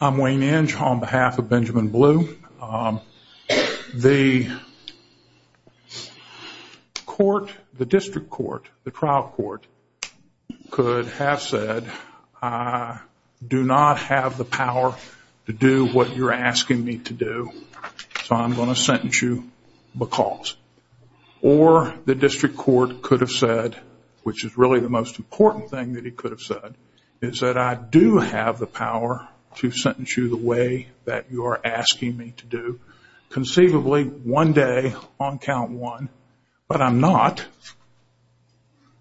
I'm Wayne Inge on behalf of Benjamin Blue. The court, the district court, the trial court could have said I do not have the power to do what you're asking me to do so I'm going to sentence you because. Or the district court could have said, which is really the most to sentence you the way that you're asking me to do conceivably one day on count one but I'm not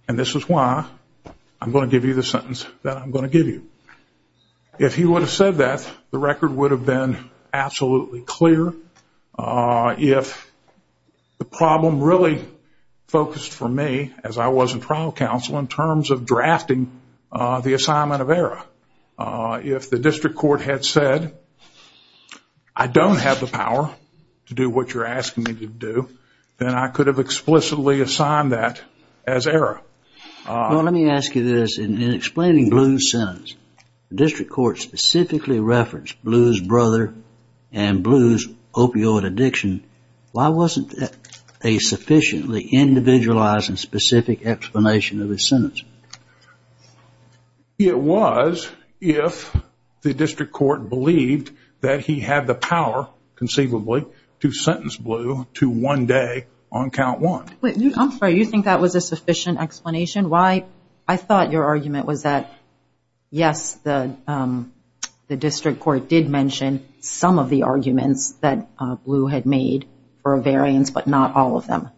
and this is why I'm going to give you the sentence that I'm going to give you. If he would have said that the record would have been absolutely clear. If the problem really focused for me as I was in trial counsel in terms of drafting the assignment of error. If the district court had said I don't have the power to do what you're asking me to do then I could have explicitly assigned that as error. Well let me ask you this, in explaining Blue's sentence, the district court specifically referenced Blue's brother and Blue's opioid addiction. Why wasn't that a sufficiently individualized and specific explanation of his sentence? It was if the district court believed that he had the power conceivably to sentence Blue to one day on count one. I'm sorry, you think that was a sufficient explanation? I thought your argument was that yes the district court did mention some of the arguments that Blue had made for a variance but not all of them.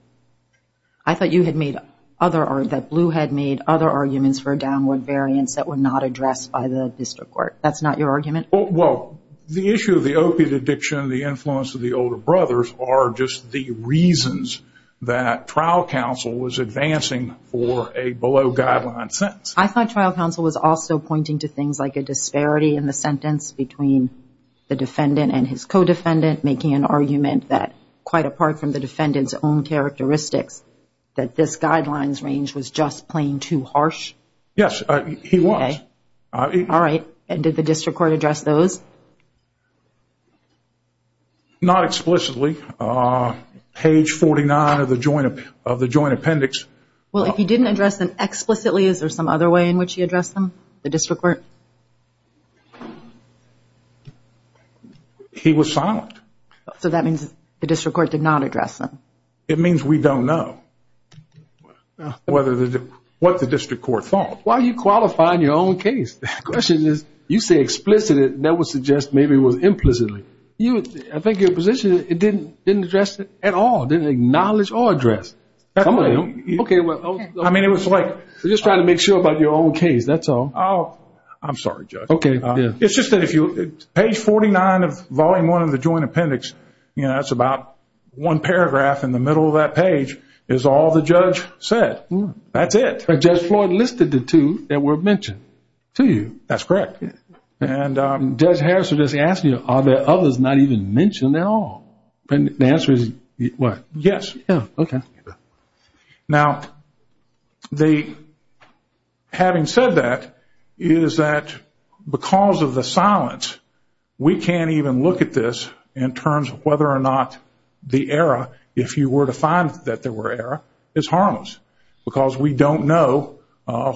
I thought you had made other, that Blue had made other arguments for a downward variance that were not addressed by the district court. That's not your argument? Well the issue of the opioid addiction and the influence of the older brothers are just the reasons that trial counsel was advancing for a below guideline sentence. I thought trial counsel was also pointing to things like a disparity in the sentence between the defendant and his co-defendant making an argument that quite apart from the defendant's own characteristics that this guidelines range was just plain too harsh. Yes he was. Alright and did the district court address those? Not explicitly. Page 49 of the joint appendix. Well if he didn't address them explicitly is there some other way in which he addressed them, the district court? He was silent. So that means the district court did not address them? It means we don't know what the district court thought. Why are you qualifying your own case? The question is you say explicit and that would suggest maybe it was implicitly. I think your position is it didn't address it at all, didn't acknowledge or address. I mean it was like. You're just trying to make sure about your own case that's all. I'm sorry Judge. It's just that if you page 49 of volume 1 of the joint appendix, you know that's about one paragraph in the middle of that page is all the judge said. That's it. But Judge Floyd listed the two that were mentioned to you. That's correct. And Judge Harrison is asking are there others not even mentioned at all? And the answer is what? Yes. Yeah, okay. Now, having said that, is that because of the silence, we can't even look at this in terms of whether or not the error, if you were to find that there were error, is harmless. Because we don't know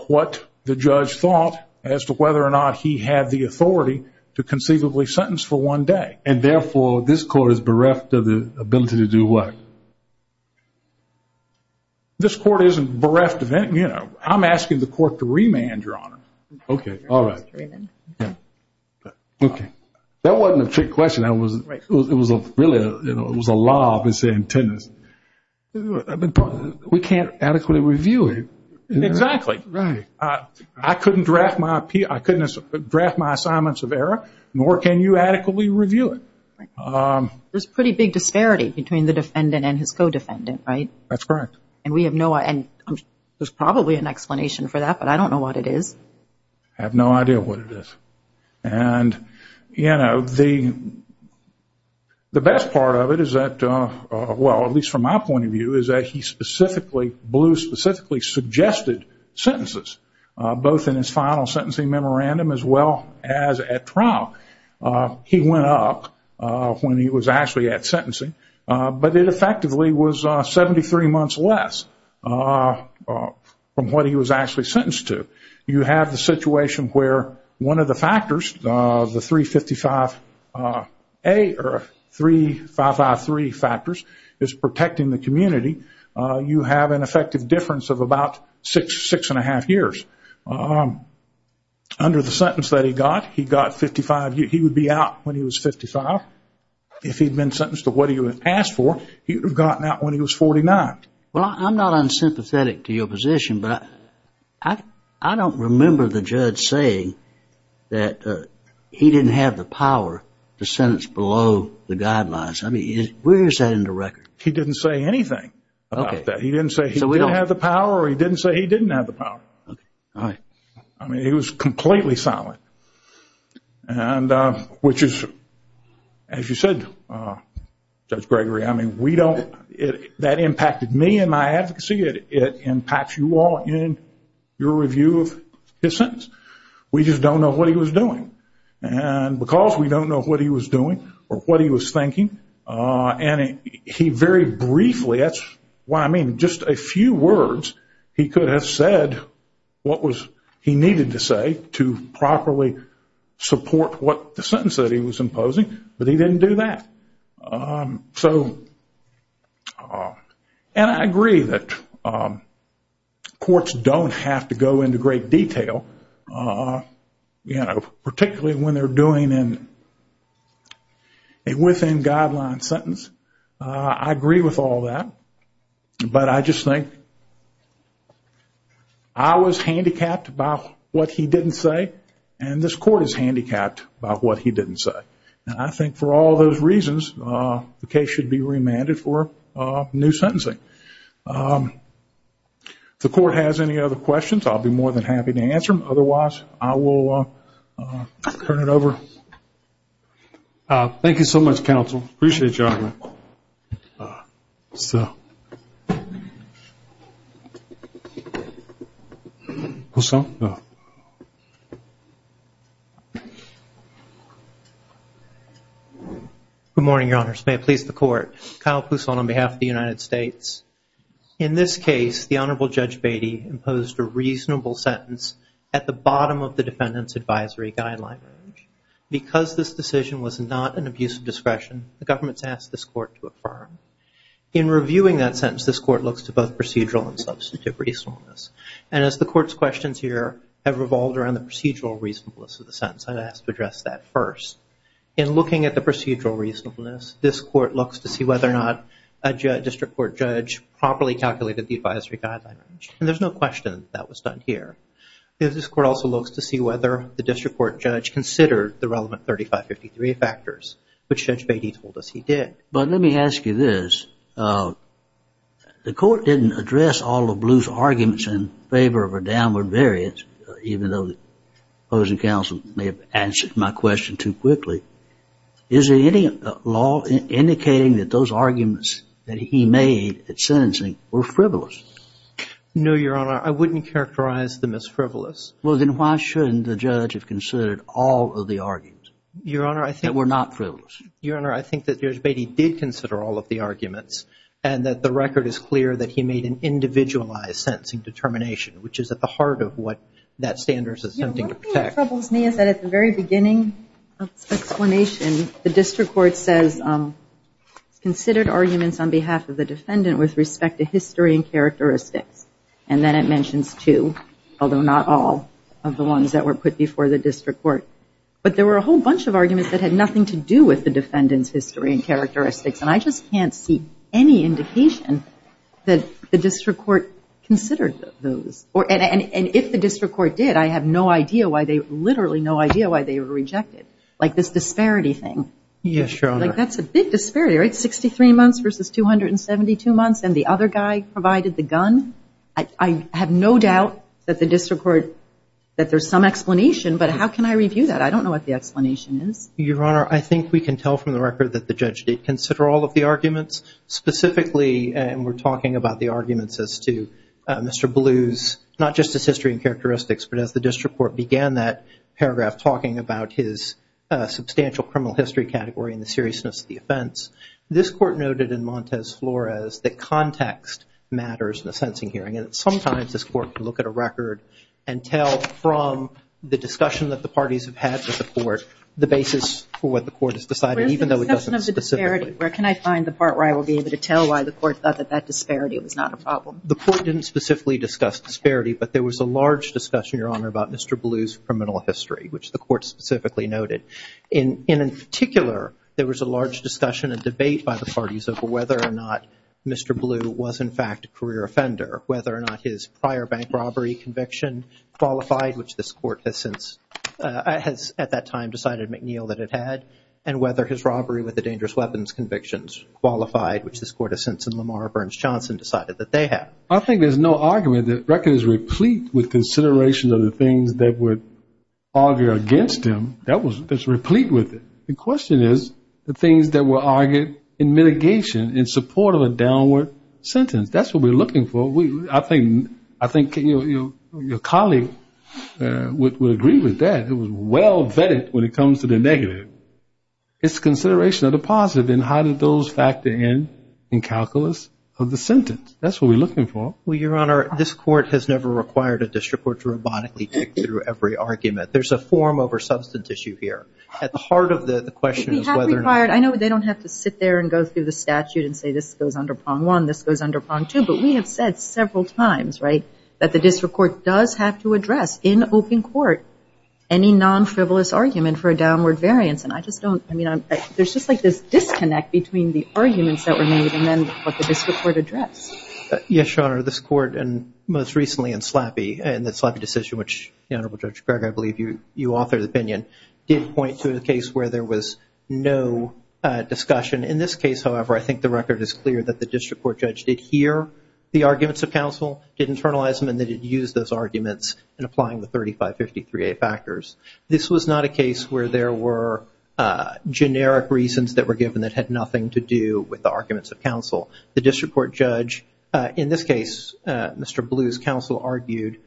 what the judge thought as to whether or not he had the authority to conceivably sentence for one day. And therefore, this court is bereft of the ability to do what? This court isn't bereft of any, you know. I'm asking the court to remand, Your Honor. Okay, all right. Okay. That wasn't a trick question. That was really, you know, it was a law of its own tendency. We can't adequately review it. Exactly. Right. I couldn't draft my assignments of error, nor can you adequately review it. There's a pretty big disparity between the defendant and his co-defendant, right? That's correct. And we have no, and there's probably an explanation for that, but I don't know what it is. I have no idea what it is. And, you know, the best part of it is that, well, at least from my point of view, is that he specifically, Blue specifically suggested sentences, both in his final sentencing memorandum as well as at trial. He went up when he was actually at sentencing, but it effectively was 73 months less from what he was actually sentenced to. You have the situation where one of the factors, the 355A or 3553 factors is protecting the community. You have an effective difference of about six, six and a half years. Under the sentence that he got, he got 55, he would be out when he was 55. If he'd been sentenced to what he was asked for, he would have gotten out when he was 49. Well, I'm not unsympathetic to your position, but I don't remember the judge saying that he didn't have the power to sentence below the guidelines. I mean, where is that in the record? He didn't say anything about that. He didn't say he didn't have the power or he didn't say he didn't have the power. I mean, he was completely silent, which is, as you said, Judge Gregory, I mean, that impacted me and my advocacy. It impacts you all in your review of his sentence. We just don't know what he was doing. And because we don't know what he was doing or what he was thinking, and he very briefly, that's what I mean. Just a few words, he could have said what he needed to say to properly support what the sentence that he was imposing, but he didn't do that. So, and I agree that courts don't have to go into great detail, you know, particularly when they're doing a within-guideline sentence. I agree with all that, but I just think I was handicapped about what he didn't say, and this court is handicapped about what he didn't say. And I think for all those reasons, the case should be remanded for new sentencing. If the court has any other questions, I'll be more than happy to answer them. Otherwise, I will turn it over. Thank you so much, counsel. Appreciate your honor. Good morning, your honors. May it please the court. Kyle Pousson on behalf of the United States. In this case, the Honorable Judge Beatty imposed a reasonable sentence at the bottom of the defendant's advisory guideline. Because this decision was not an abuse of discretion, the government's asked this court to affirm. In reviewing that sentence, this court looks to both procedural and substantive reasonableness. And as the court's questions here have revolved around the procedural reasonableness of the sentence, I've asked to address that first. In looking at the procedural reasonableness, this court looks to see whether or not a district court judge properly calculated the advisory guideline. And there's no question that was done here. This court also looks to see whether the district court judge considered the relevant 3553 factors, which Judge Beatty told us he did. But let me ask you this. The court didn't address all of Blue's arguments in favor of a downward variance, even though the opposing counsel may have answered my question too quickly. Is there any law indicating that those arguments that he made at sentencing were frivolous? No, Your Honor. I wouldn't characterize them as frivolous. Well, then why shouldn't the judge have considered all of the arguments that were not frivolous? Your Honor, I think that Judge Beatty did consider all of the arguments, and that the record is clear that he made an individualized sentencing determination, which is at the heart of what that standard is attempting to protect. You know, one thing that troubles me is that at the very beginning of this explanation, the district court says it's considered arguments on behalf of the defendant with respect to characteristics, and then it mentions two, although not all, of the ones that were put before the district court. But there were a whole bunch of arguments that had nothing to do with the defendant's history and characteristics, and I just can't see any indication that the district court considered those. And if the district court did, I have no idea why they, literally no idea why they were rejected. Like this disparity thing. Yes, Your Honor. Like that's a big disparity, right? 272 months, and the other guy provided the gun. I have no doubt that the district court, that there's some explanation, but how can I review that? I don't know what the explanation is. Your Honor, I think we can tell from the record that the judge did consider all of the arguments. Specifically, and we're talking about the arguments as to Mr. Blue's, not just his history and characteristics, but as the district court began that paragraph talking about his substantial criminal history category and the seriousness of the offense. This court noted in Montez Flores that context matters in a sentencing hearing. And sometimes this court can look at a record and tell from the discussion that the parties have had with the court the basis for what the court has decided, even though it doesn't specifically. Where can I find the part where I will be able to tell why the court thought that that disparity was not a problem? The court didn't specifically discuss disparity, but there was a large discussion, Your Honor, about Mr. Blue's criminal history, which the court specifically noted. And in particular, there was a large discussion and debate by the parties over whether or not Mr. Blue was, in fact, a career offender, whether or not his prior bank robbery conviction qualified, which this court has since at that time decided McNeil that it had, and whether his robbery with the dangerous weapons convictions qualified, which this court has since in Lamar Burns Johnson decided that they had. I think there's no argument. The record is replete with considerations of the things that would argue against him. It's replete with it. The question is the things that were argued in mitigation in support of a downward sentence. That's what we're looking for. I think your colleague would agree with that. It was well vetted when it comes to the negative. It's a consideration of the positive, and how did those factor in in calculus of the sentence? That's what we're looking for. Well, Your Honor, this court has never required a district court to robotically tick through every argument. There's a form over substance issue here. At the heart of the question is whether or not- I know they don't have to sit there and go through the statute and say this goes under prong one, this goes under prong two, but we have said several times, right, that the district court does have to address in open court any non-frivolous argument for a downward variance. And I just don't, I mean, there's just like this disconnect between the arguments that were made and then what the district court addressed. Yes, Your Honor, this court, and most recently in Slappy, in the Slappy decision, which I believe you authored the opinion, did point to a case where there was no discussion. In this case, however, I think the record is clear that the district court judge did hear the arguments of counsel, did internalize them, and they did use those arguments in applying the 3553A factors. This was not a case where there were generic reasons that were given that had nothing to do with the arguments of counsel. The district court judge, in this case, Mr. Blue's counsel, argued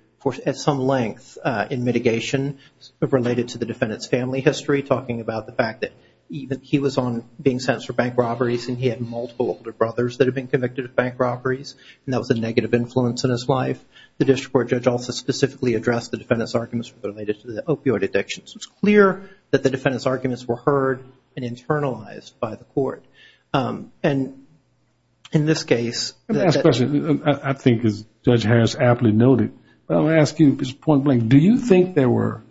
at some length in mitigation related to the defendant's family history, talking about the fact that he was on being sentenced for bank robberies and he had multiple older brothers that had been convicted of bank robberies, and that was a negative influence in his life. The district court judge also specifically addressed the defendant's arguments related to the opioid addiction. So it's clear that the defendant's arguments were heard and internalized by the court. And in this case- Let me ask a question. I think as Judge Harris aptly noted, but I'm going to ask you this point blank. Do you think there were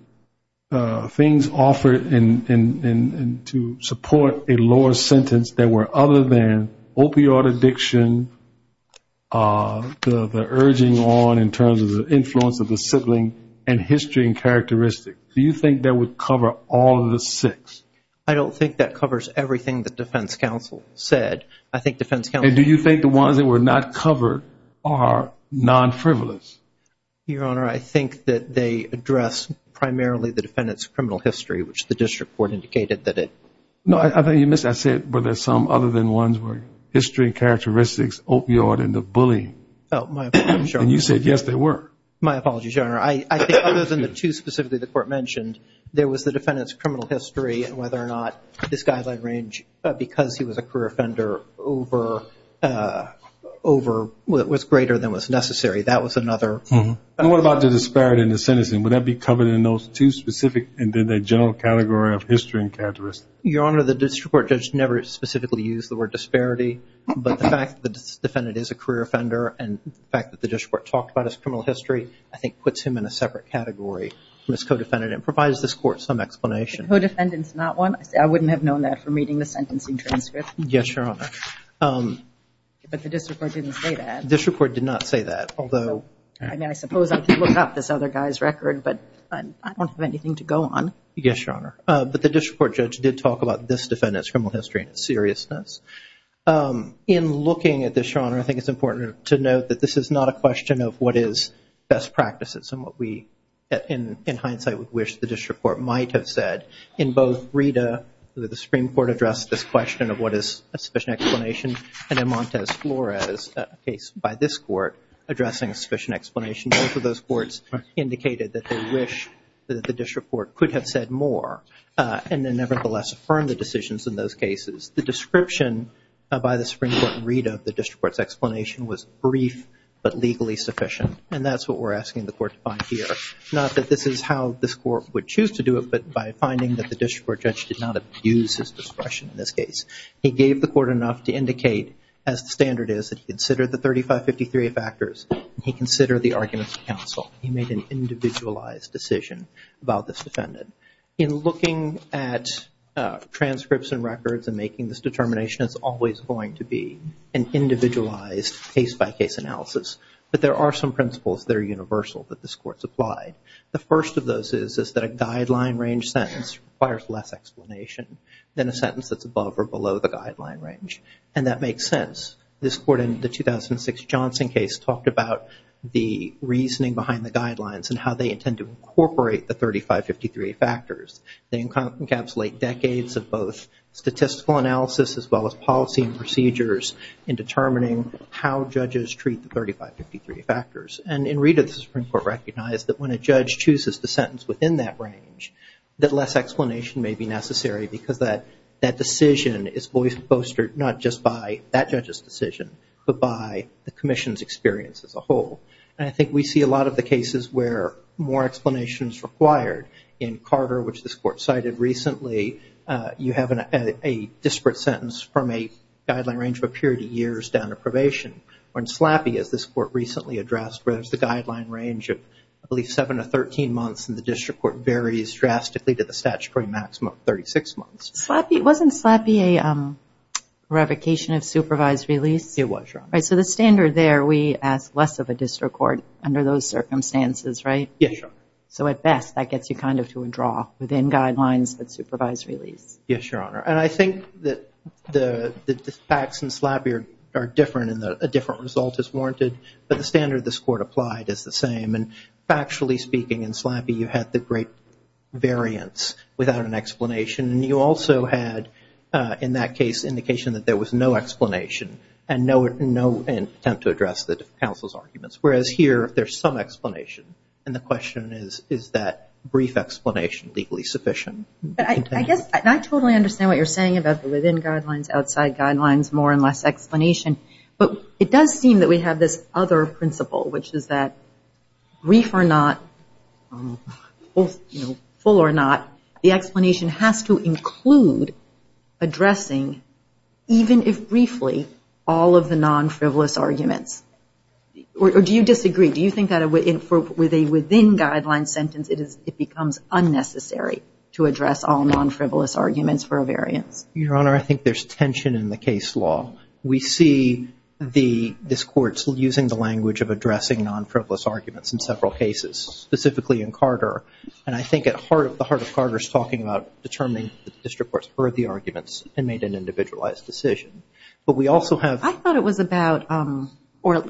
things offered to support a lower sentence that were other than opioid addiction, the urging on in terms of the influence of the sibling, and history and characteristics? Do you think that would cover all of the six? I don't think that covers everything that defense counsel said. I think defense counsel- Do you think the ones that were not covered are non-frivolous? Your Honor, I think that they addressed primarily the defendant's criminal history, which the district court indicated that it- No, I think you missed. I said were there some other than ones where history, characteristics, opioid, and the bullying. Oh, my apologies, Your Honor. You said yes, there were. My apologies, Your Honor. I think other than the two specifically the court mentioned, there was the defendant's whether or not this guideline range because he was a career offender over what was greater than what's necessary. That was another- What about the disparity in the sentencing? Would that be covered in those two specific and then the general category of history and characteristics? Your Honor, the district court judge never specifically used the word disparity, but the fact that this defendant is a career offender and the fact that the district court talked about his criminal history, I think puts him in a separate category from his co-defendant and provides this court some explanation. Co-defendant's not one? I wouldn't have known that from reading the sentencing transcript. Yes, Your Honor. But the district court didn't say that. District court did not say that, although- I mean, I suppose I could look up this other guy's record, but I don't have anything to go on. Yes, Your Honor. But the district court judge did talk about this defendant's criminal history and its seriousness. In looking at this, Your Honor, I think it's important to note that this is not a question of what is best practices and what we, in hindsight, would wish the district court might have said. In both Rita, where the Supreme Court addressed this question of what is a sufficient explanation, and in Montez Flores, a case by this court, addressing a sufficient explanation, both of those courts indicated that they wish that the district court could have said more and then, nevertheless, affirmed the decisions in those cases. The description by the Supreme Court in Rita of the district court's explanation was brief but legally sufficient, and that's what we're asking the court to find here. Not that this is how this court would choose to do it, but by finding that the district court judge did not abuse his discretion in this case. He gave the court enough to indicate, as the standard is, that he considered the 3553 factors and he considered the arguments of counsel. He made an individualized decision about this defendant. In looking at transcripts and records and making this determination, it's always going to be an individualized case-by-case analysis. But there are some principles that are universal that this court supplied. The first of those is that a guideline range sentence requires less explanation than a sentence that's above or below the guideline range, and that makes sense. This court in the 2006 Johnson case talked about the reasoning behind the guidelines and how they intend to incorporate the 3553 factors. They encapsulate decades of both statistical analysis as well as policy and procedures in determining how judges treat the 3553 factors. And in Rita, the Supreme Court recognized that when a judge chooses the sentence within that range, that less explanation may be necessary because that decision is bolstered not just by that judge's decision, but by the commission's experience as a whole. And I think we see a lot of the cases where more explanation is required. In Carter, which this court cited recently, you have a disparate sentence from a guideline range of a period of years down to probation, when SLAPI, as this court recently addressed, where there's the guideline range of I believe 7 to 13 months, and the district court varies drastically to the statutory maximum of 36 months. SLAPI, wasn't SLAPI a revocation of supervised release? It was, Your Honor. Right, so the standard there, we ask less of a district court under those circumstances, right? Yes, Your Honor. So at best, that gets you kind of to a draw within guidelines of supervised release. Yes, Your Honor. And I think that the facts in SLAPI are different, and a different result is warranted. But the standard this court applied is the same. And factually speaking, in SLAPI, you had the great variance without an explanation. And you also had, in that case, indication that there was no explanation and no attempt to address the counsel's arguments. Whereas here, there's some explanation. And the question is, is that brief explanation legally sufficient? But I guess I totally understand what you're saying about the within guidelines, outside guidelines, more and less explanation. But it does seem that we have this other principle, which is that brief or not, full or not, the explanation has to include addressing, even if briefly, all of the non-frivolous arguments. Or do you disagree? Do you think that with a within guidelines sentence, it becomes unnecessary to address all non-frivolous arguments for a variance? Your Honor, I think there's tension in the case law. We see this court's using the language of addressing non-frivolous arguments in several cases, specifically in Carter. And I think at the heart of Carter's talking about determining the district court's worthy arguments and made an individualized decision. But we also have- I thought it was about, or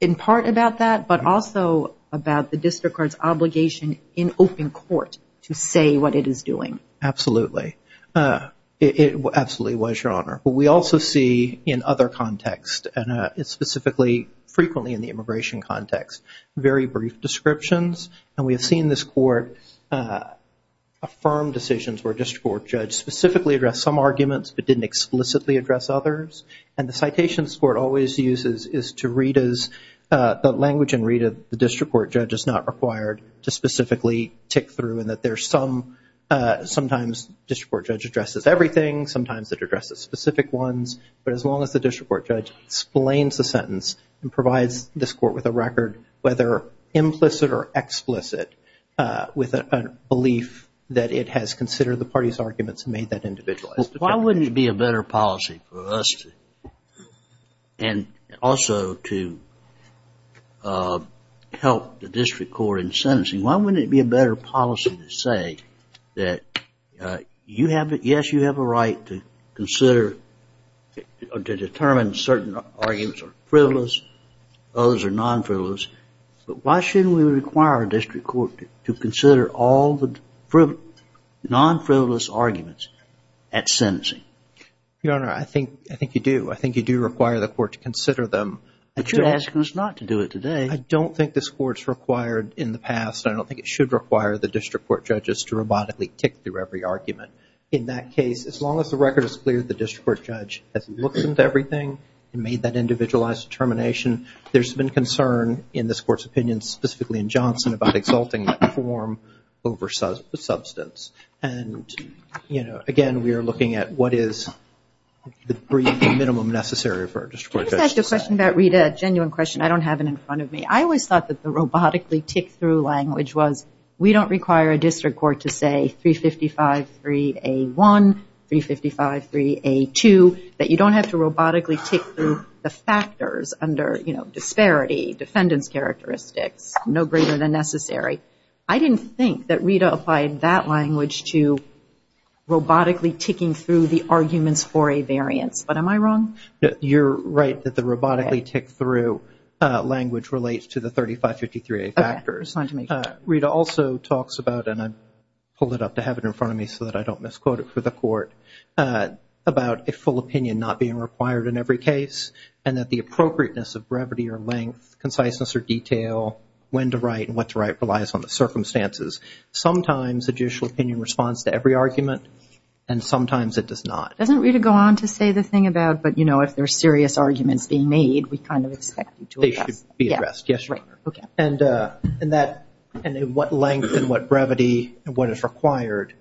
in part about that, but also about the district court's obligation in open court to say what it is doing. Absolutely. Absolutely it was, Your Honor. But we also see in other contexts, and specifically, frequently in the immigration context, very brief descriptions. And we have seen this court affirm decisions where a district court judge specifically addressed some arguments but didn't explicitly address others. And the citations court always uses is to read as the language and read as the district court judge is not required to specifically tick through. And that there's some, sometimes district court judge addresses everything, sometimes it addresses specific ones. But as long as the district court judge explains the sentence and provides this court with a record, whether implicit or explicit, with a belief that it has considered the party's arguments and made that individualized decision. Why wouldn't it be a better policy for us to, and also to help the district court in sentencing, why wouldn't it be a better policy to say that yes, you have a right to consider or to determine certain arguments are frivolous, others are non-frivolous. But why shouldn't we require a district court to consider all the non-frivolous arguments at sentencing? Your Honor, I think you do. I think you do require the court to consider them. But you're asking us not to do it today. I don't think this court's required in the past. I don't think it should require the district court judges to robotically tick through every argument. In that case, as long as the record is clear that the district court judge has looked into everything and made that individualized determination, there's been concern in this court's opinion, specifically in Johnson, about exalting that form over substance. And, you know, again, we are looking at what is the minimum necessary for a district court judge. Can I just ask you a question about, Rita, a genuine question? I don't have it in front of me. I always thought that the robotically tick through language was, we don't require a district court to say 355-3A1, 355-3A2, that you don't have to robotically tick through the factors under, you know, disparity, defendant's characteristics, no greater than necessary. I didn't think that Rita applied that language to robotically ticking through the arguments for a variance. But am I wrong? You're right that the robotically tick through language relates to the 355-3A factors. Rita also talks about, and I pulled it up to have it in front of me so that I don't misquote it for the court, about a full opinion not being required in every case, and that the appropriateness of brevity or length, conciseness or detail, when to write and what to write, relies on the circumstances. Sometimes a judicial opinion responds to every argument, and sometimes it does not. Doesn't Rita go on to say the thing about, but, you know, if there are serious arguments being made, we kind of expect you to address. They should be addressed, yes, Your Honor. And that, and what length and what brevity and what is required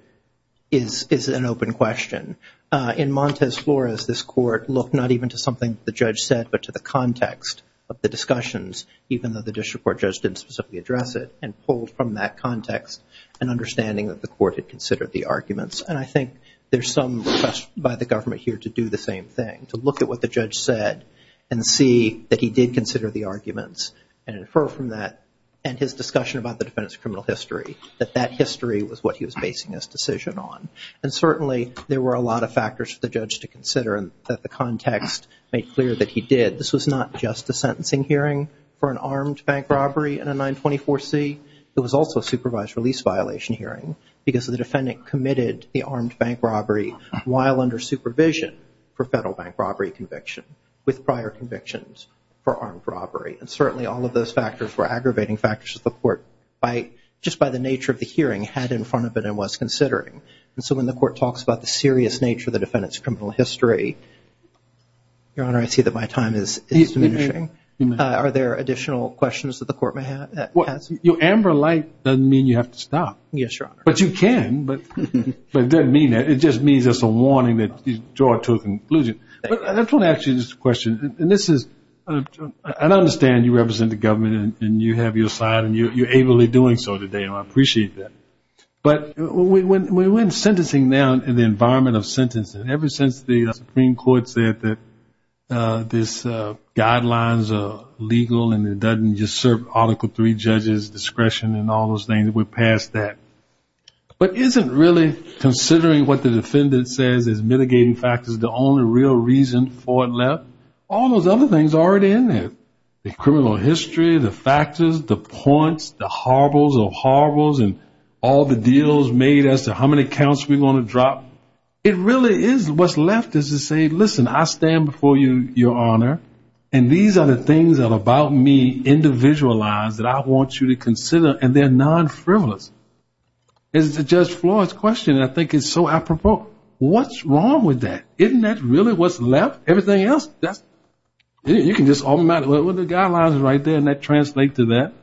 is an open question. In Montez Flores, this court looked not even to something the judge said, but to the context of the discussions, even though the district court judge didn't specifically address it, and pulled from that context an understanding that the court had considered the arguments. And I think there's some request by the government here to do the same thing, to look at what the judge said and see that he did consider the arguments and infer from that, and his discussion about the defendant's criminal history, that that history was what he was basing his decision on. And certainly, there were a lot of factors for the judge to consider and that the context made clear that he did. This was not just a sentencing hearing for an armed bank robbery in a 924C. It was also a supervised release violation hearing, because the defendant committed the armed bank robbery while under supervision for federal bank robbery conviction, with prior convictions for armed robbery. And certainly, all of those factors were aggravating factors that the court, just by the nature of the hearing, had in front of it and was considering. And so, when the court talks about the serious nature of the defendant's criminal history, Your Honor, I see that my time is diminishing. Are there additional questions that the court may have? Amber light doesn't mean you have to stop. Yes, Your Honor. But you can. But it doesn't mean that. It just means it's a warning that you draw to a conclusion. But I just want to ask you this question. And this is, I understand you represent the government, and you have your side, and you're ably doing so today. And I appreciate that. But when sentencing now, in the environment of sentencing, ever since the Supreme Court said that this guidelines are legal and it doesn't just serve Article III judges discretion and all those things, we're past that. But isn't really considering what the defendant says is mitigating factors the only real reason for it left? All those other things are already in there. The criminal history, the factors, the points, the horribles of horribles, and all the deals made as to how many counts we want to drop. It really is what's left is to say, listen, I stand before you, Your Honor, and these are the things that are about me, individualized, that I want you to consider. And they're non-frivolous. As to Judge Floyd's question, I think it's so apropos, what's wrong with that? Isn't that really what's left? Everything else, that's, you can just automatically, well, the guidelines are right there, and that translates to that.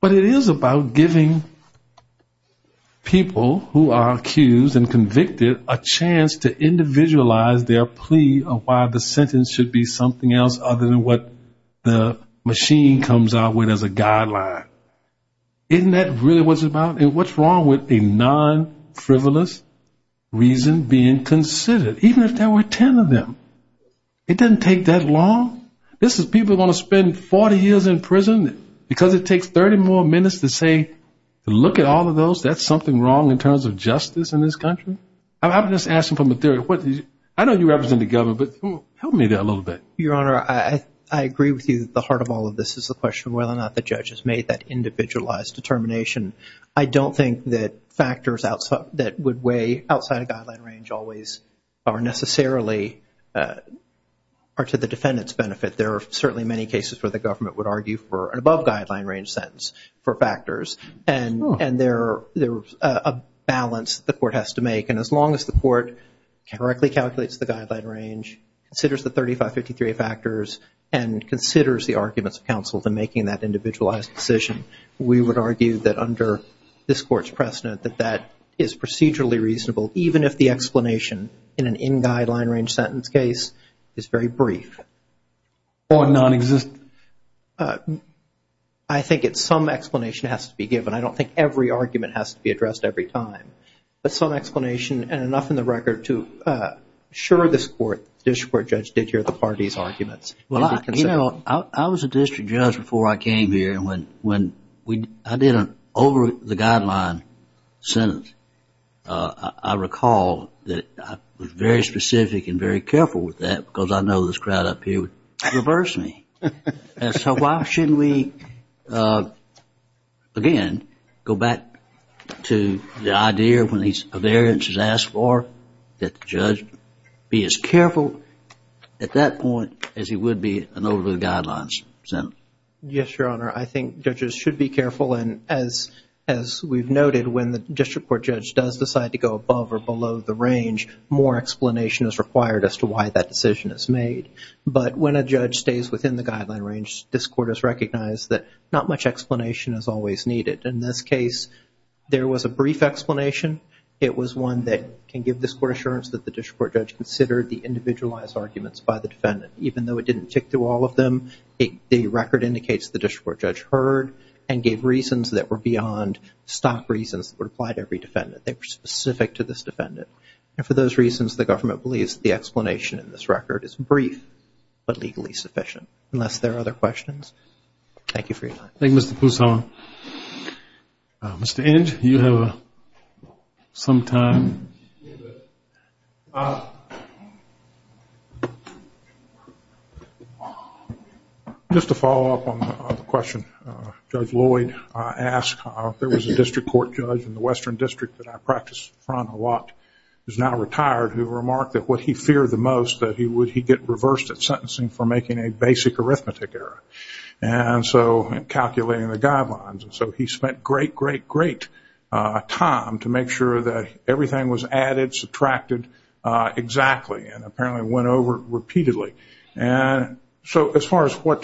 But it is about giving people who are accused and convicted a chance to individualize their plea of why the sentence should be something else other than what the machine comes out with as a guideline. Isn't that really what it's about? And what's wrong with a non-frivolous reason being considered, even if there were 10 of them? It doesn't take that long. People are going to spend 40 years in prison because it takes 30 more minutes to say, look at all of those, that's something wrong in terms of justice in this country. I'm just asking from a theory. I know you represent the government, but help me there a little bit. Your Honor, I agree with you at the heart of all of this is the question of whether or not the judge has made that individualized determination. I don't think that factors that would weigh outside of guideline range always are necessarily are to the defendant's benefit. There are certainly many cases where the government would argue for an above guideline range sentence for factors, and there's a balance the court has to make. And as long as the court correctly calculates the guideline range, considers the 3553 factors, and considers the arguments of counsel to making that individualized decision, we would argue that under this court's precedent that that is procedurally reasonable, even if the sentence case is very brief. Or nonexistent. I think it's some explanation has to be given. I don't think every argument has to be addressed every time. But some explanation, and enough in the record to assure this court, the district court judge, did hear the party's arguments. Well, you know, I was a district judge before I came here, and when I did an over the guideline sentence, I recall that I was very specific and very careful with that because I know this crowd up here would reverse me. And so why shouldn't we, again, go back to the idea when a variance is asked for that the judge be as careful at that point as he would be an over the guidelines sentence? Yes, Your Honor. I think judges should be careful. And as we've noted, when the district court judge does decide to go above or below the range, more explanation is required as to why that decision is made. But when a judge stays within the guideline range, this court has recognized that not much explanation is always needed. In this case, there was a brief explanation. It was one that can give this court assurance that the district court judge considered the individualized arguments by the defendant. Even though it didn't tick through all of them, the record indicates the district court heard and gave reasons that were beyond stock reasons that would apply to every defendant. They were specific to this defendant. And for those reasons, the government believes that the explanation in this record is brief but legally sufficient. Unless there are other questions, thank you for your time. Thank you, Mr. Poussaint. Mr. Inge, you have some time. Just to follow up on the question Judge Lloyd asked, there was a district court judge in the Western District that I practice from a lot who is now retired who remarked that what he feared the most that he would get reversed at sentencing for making a basic arithmetic error. And so calculating the guidelines. So he spent great, great, great time to make sure that everything was added, subtracted exactly. And apparently went over it repeatedly. And so as far as what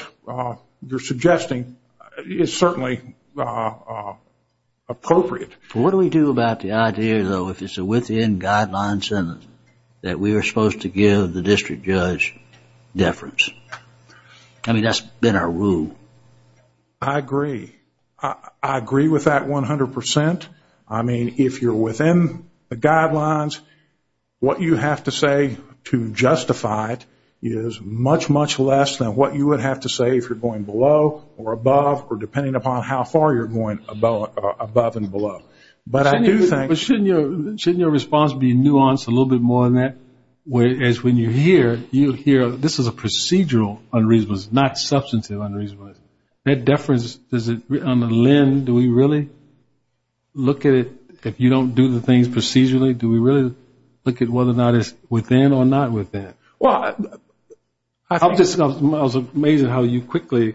you're suggesting, it's certainly appropriate. What do we do about the idea, though, if it's a within-guidelines sentence, that we are supposed to give the district judge deference? I mean, that's been our rule. I agree. I agree with that 100%. I mean, if you're within the guidelines, what you have to say to justify it is much, much less than what you would have to say if you're going below or above or depending upon how far you're going above and below. But I do think- Shouldn't your response be nuanced a little bit more than that? As when you hear, you hear this is a procedural unreasonable, not substantive unreasonable. That deference, does it on the LEND, do we really look at it if you don't do the things procedurally? Do we really look at whether or not it's within or not within? Well, I was amazed at how you quickly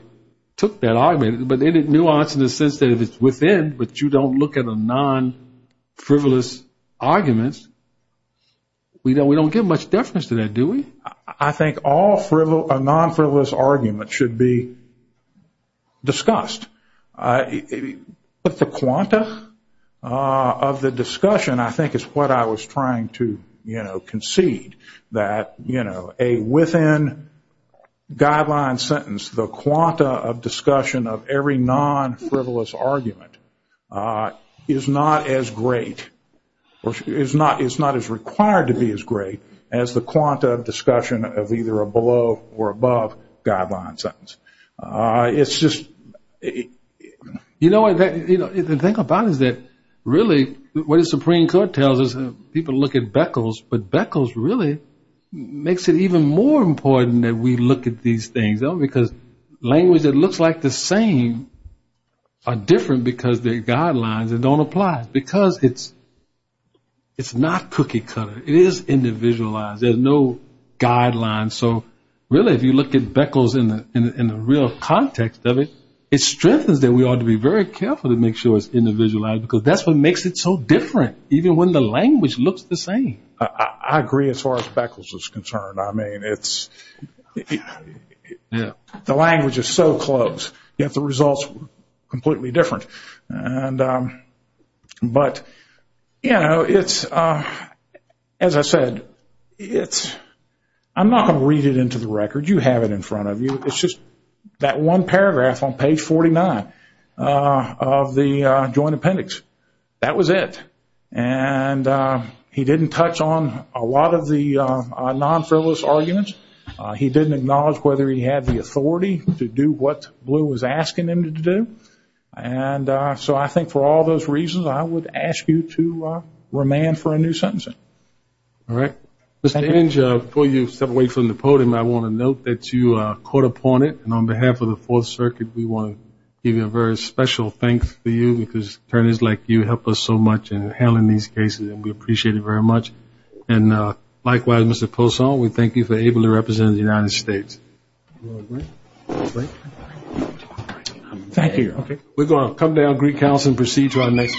took that argument. But in a nuance in the sense that if it's within, but you don't look at a non-frivolous argument, we don't give much deference to that, do we? I think a non-frivolous argument should be discussed. But the quanta of the discussion, I think, is what I was trying to concede. That a within guideline sentence, the quanta of discussion of every non-frivolous argument is not as great or is not as required to be as great as the quanta of discussion of either a below or above guideline sentence. It's just- You know what, the thing about it is that really what the Supreme Court tells us, people look at Beckles, but Beckles really makes it even more important that we look at these things, though, because language that looks like the same are different because they're guidelines that don't apply. Because it's not cookie cutter. It is individualized. There's no guidelines. So really, if you look at Beckles in the real context of it, it strengthens that we ought to be very careful to make sure it's individualized because that's what makes it so different, even when the language looks the same. I agree as far as Beckles is concerned. I mean, it's- The language is so close, yet the results are completely different. But, you know, it's- As I said, it's- I'm not going to read it into the record. You have it in front of you. It's just that one paragraph on page 49 of the joint appendix. That was it. And he didn't touch on a lot of the non-fairless arguments. He didn't acknowledge whether he had the authority to do what Blue was asking him to do. And so I think for all those reasons, I would ask you to remand for a new sentencing. All right. Mr. Hinge, before you step away from the podium, I want to note that you caught upon it. And on behalf of the Fourth Circuit, we want to give you a very special thanks for you because attorneys like you help us so much in handling these cases. And we appreciate it very much. And likewise, Mr. Poisson, we thank you for being able to represent the United States. Thank you. Okay. We're going to come down, greet counsel, and proceed to our next question.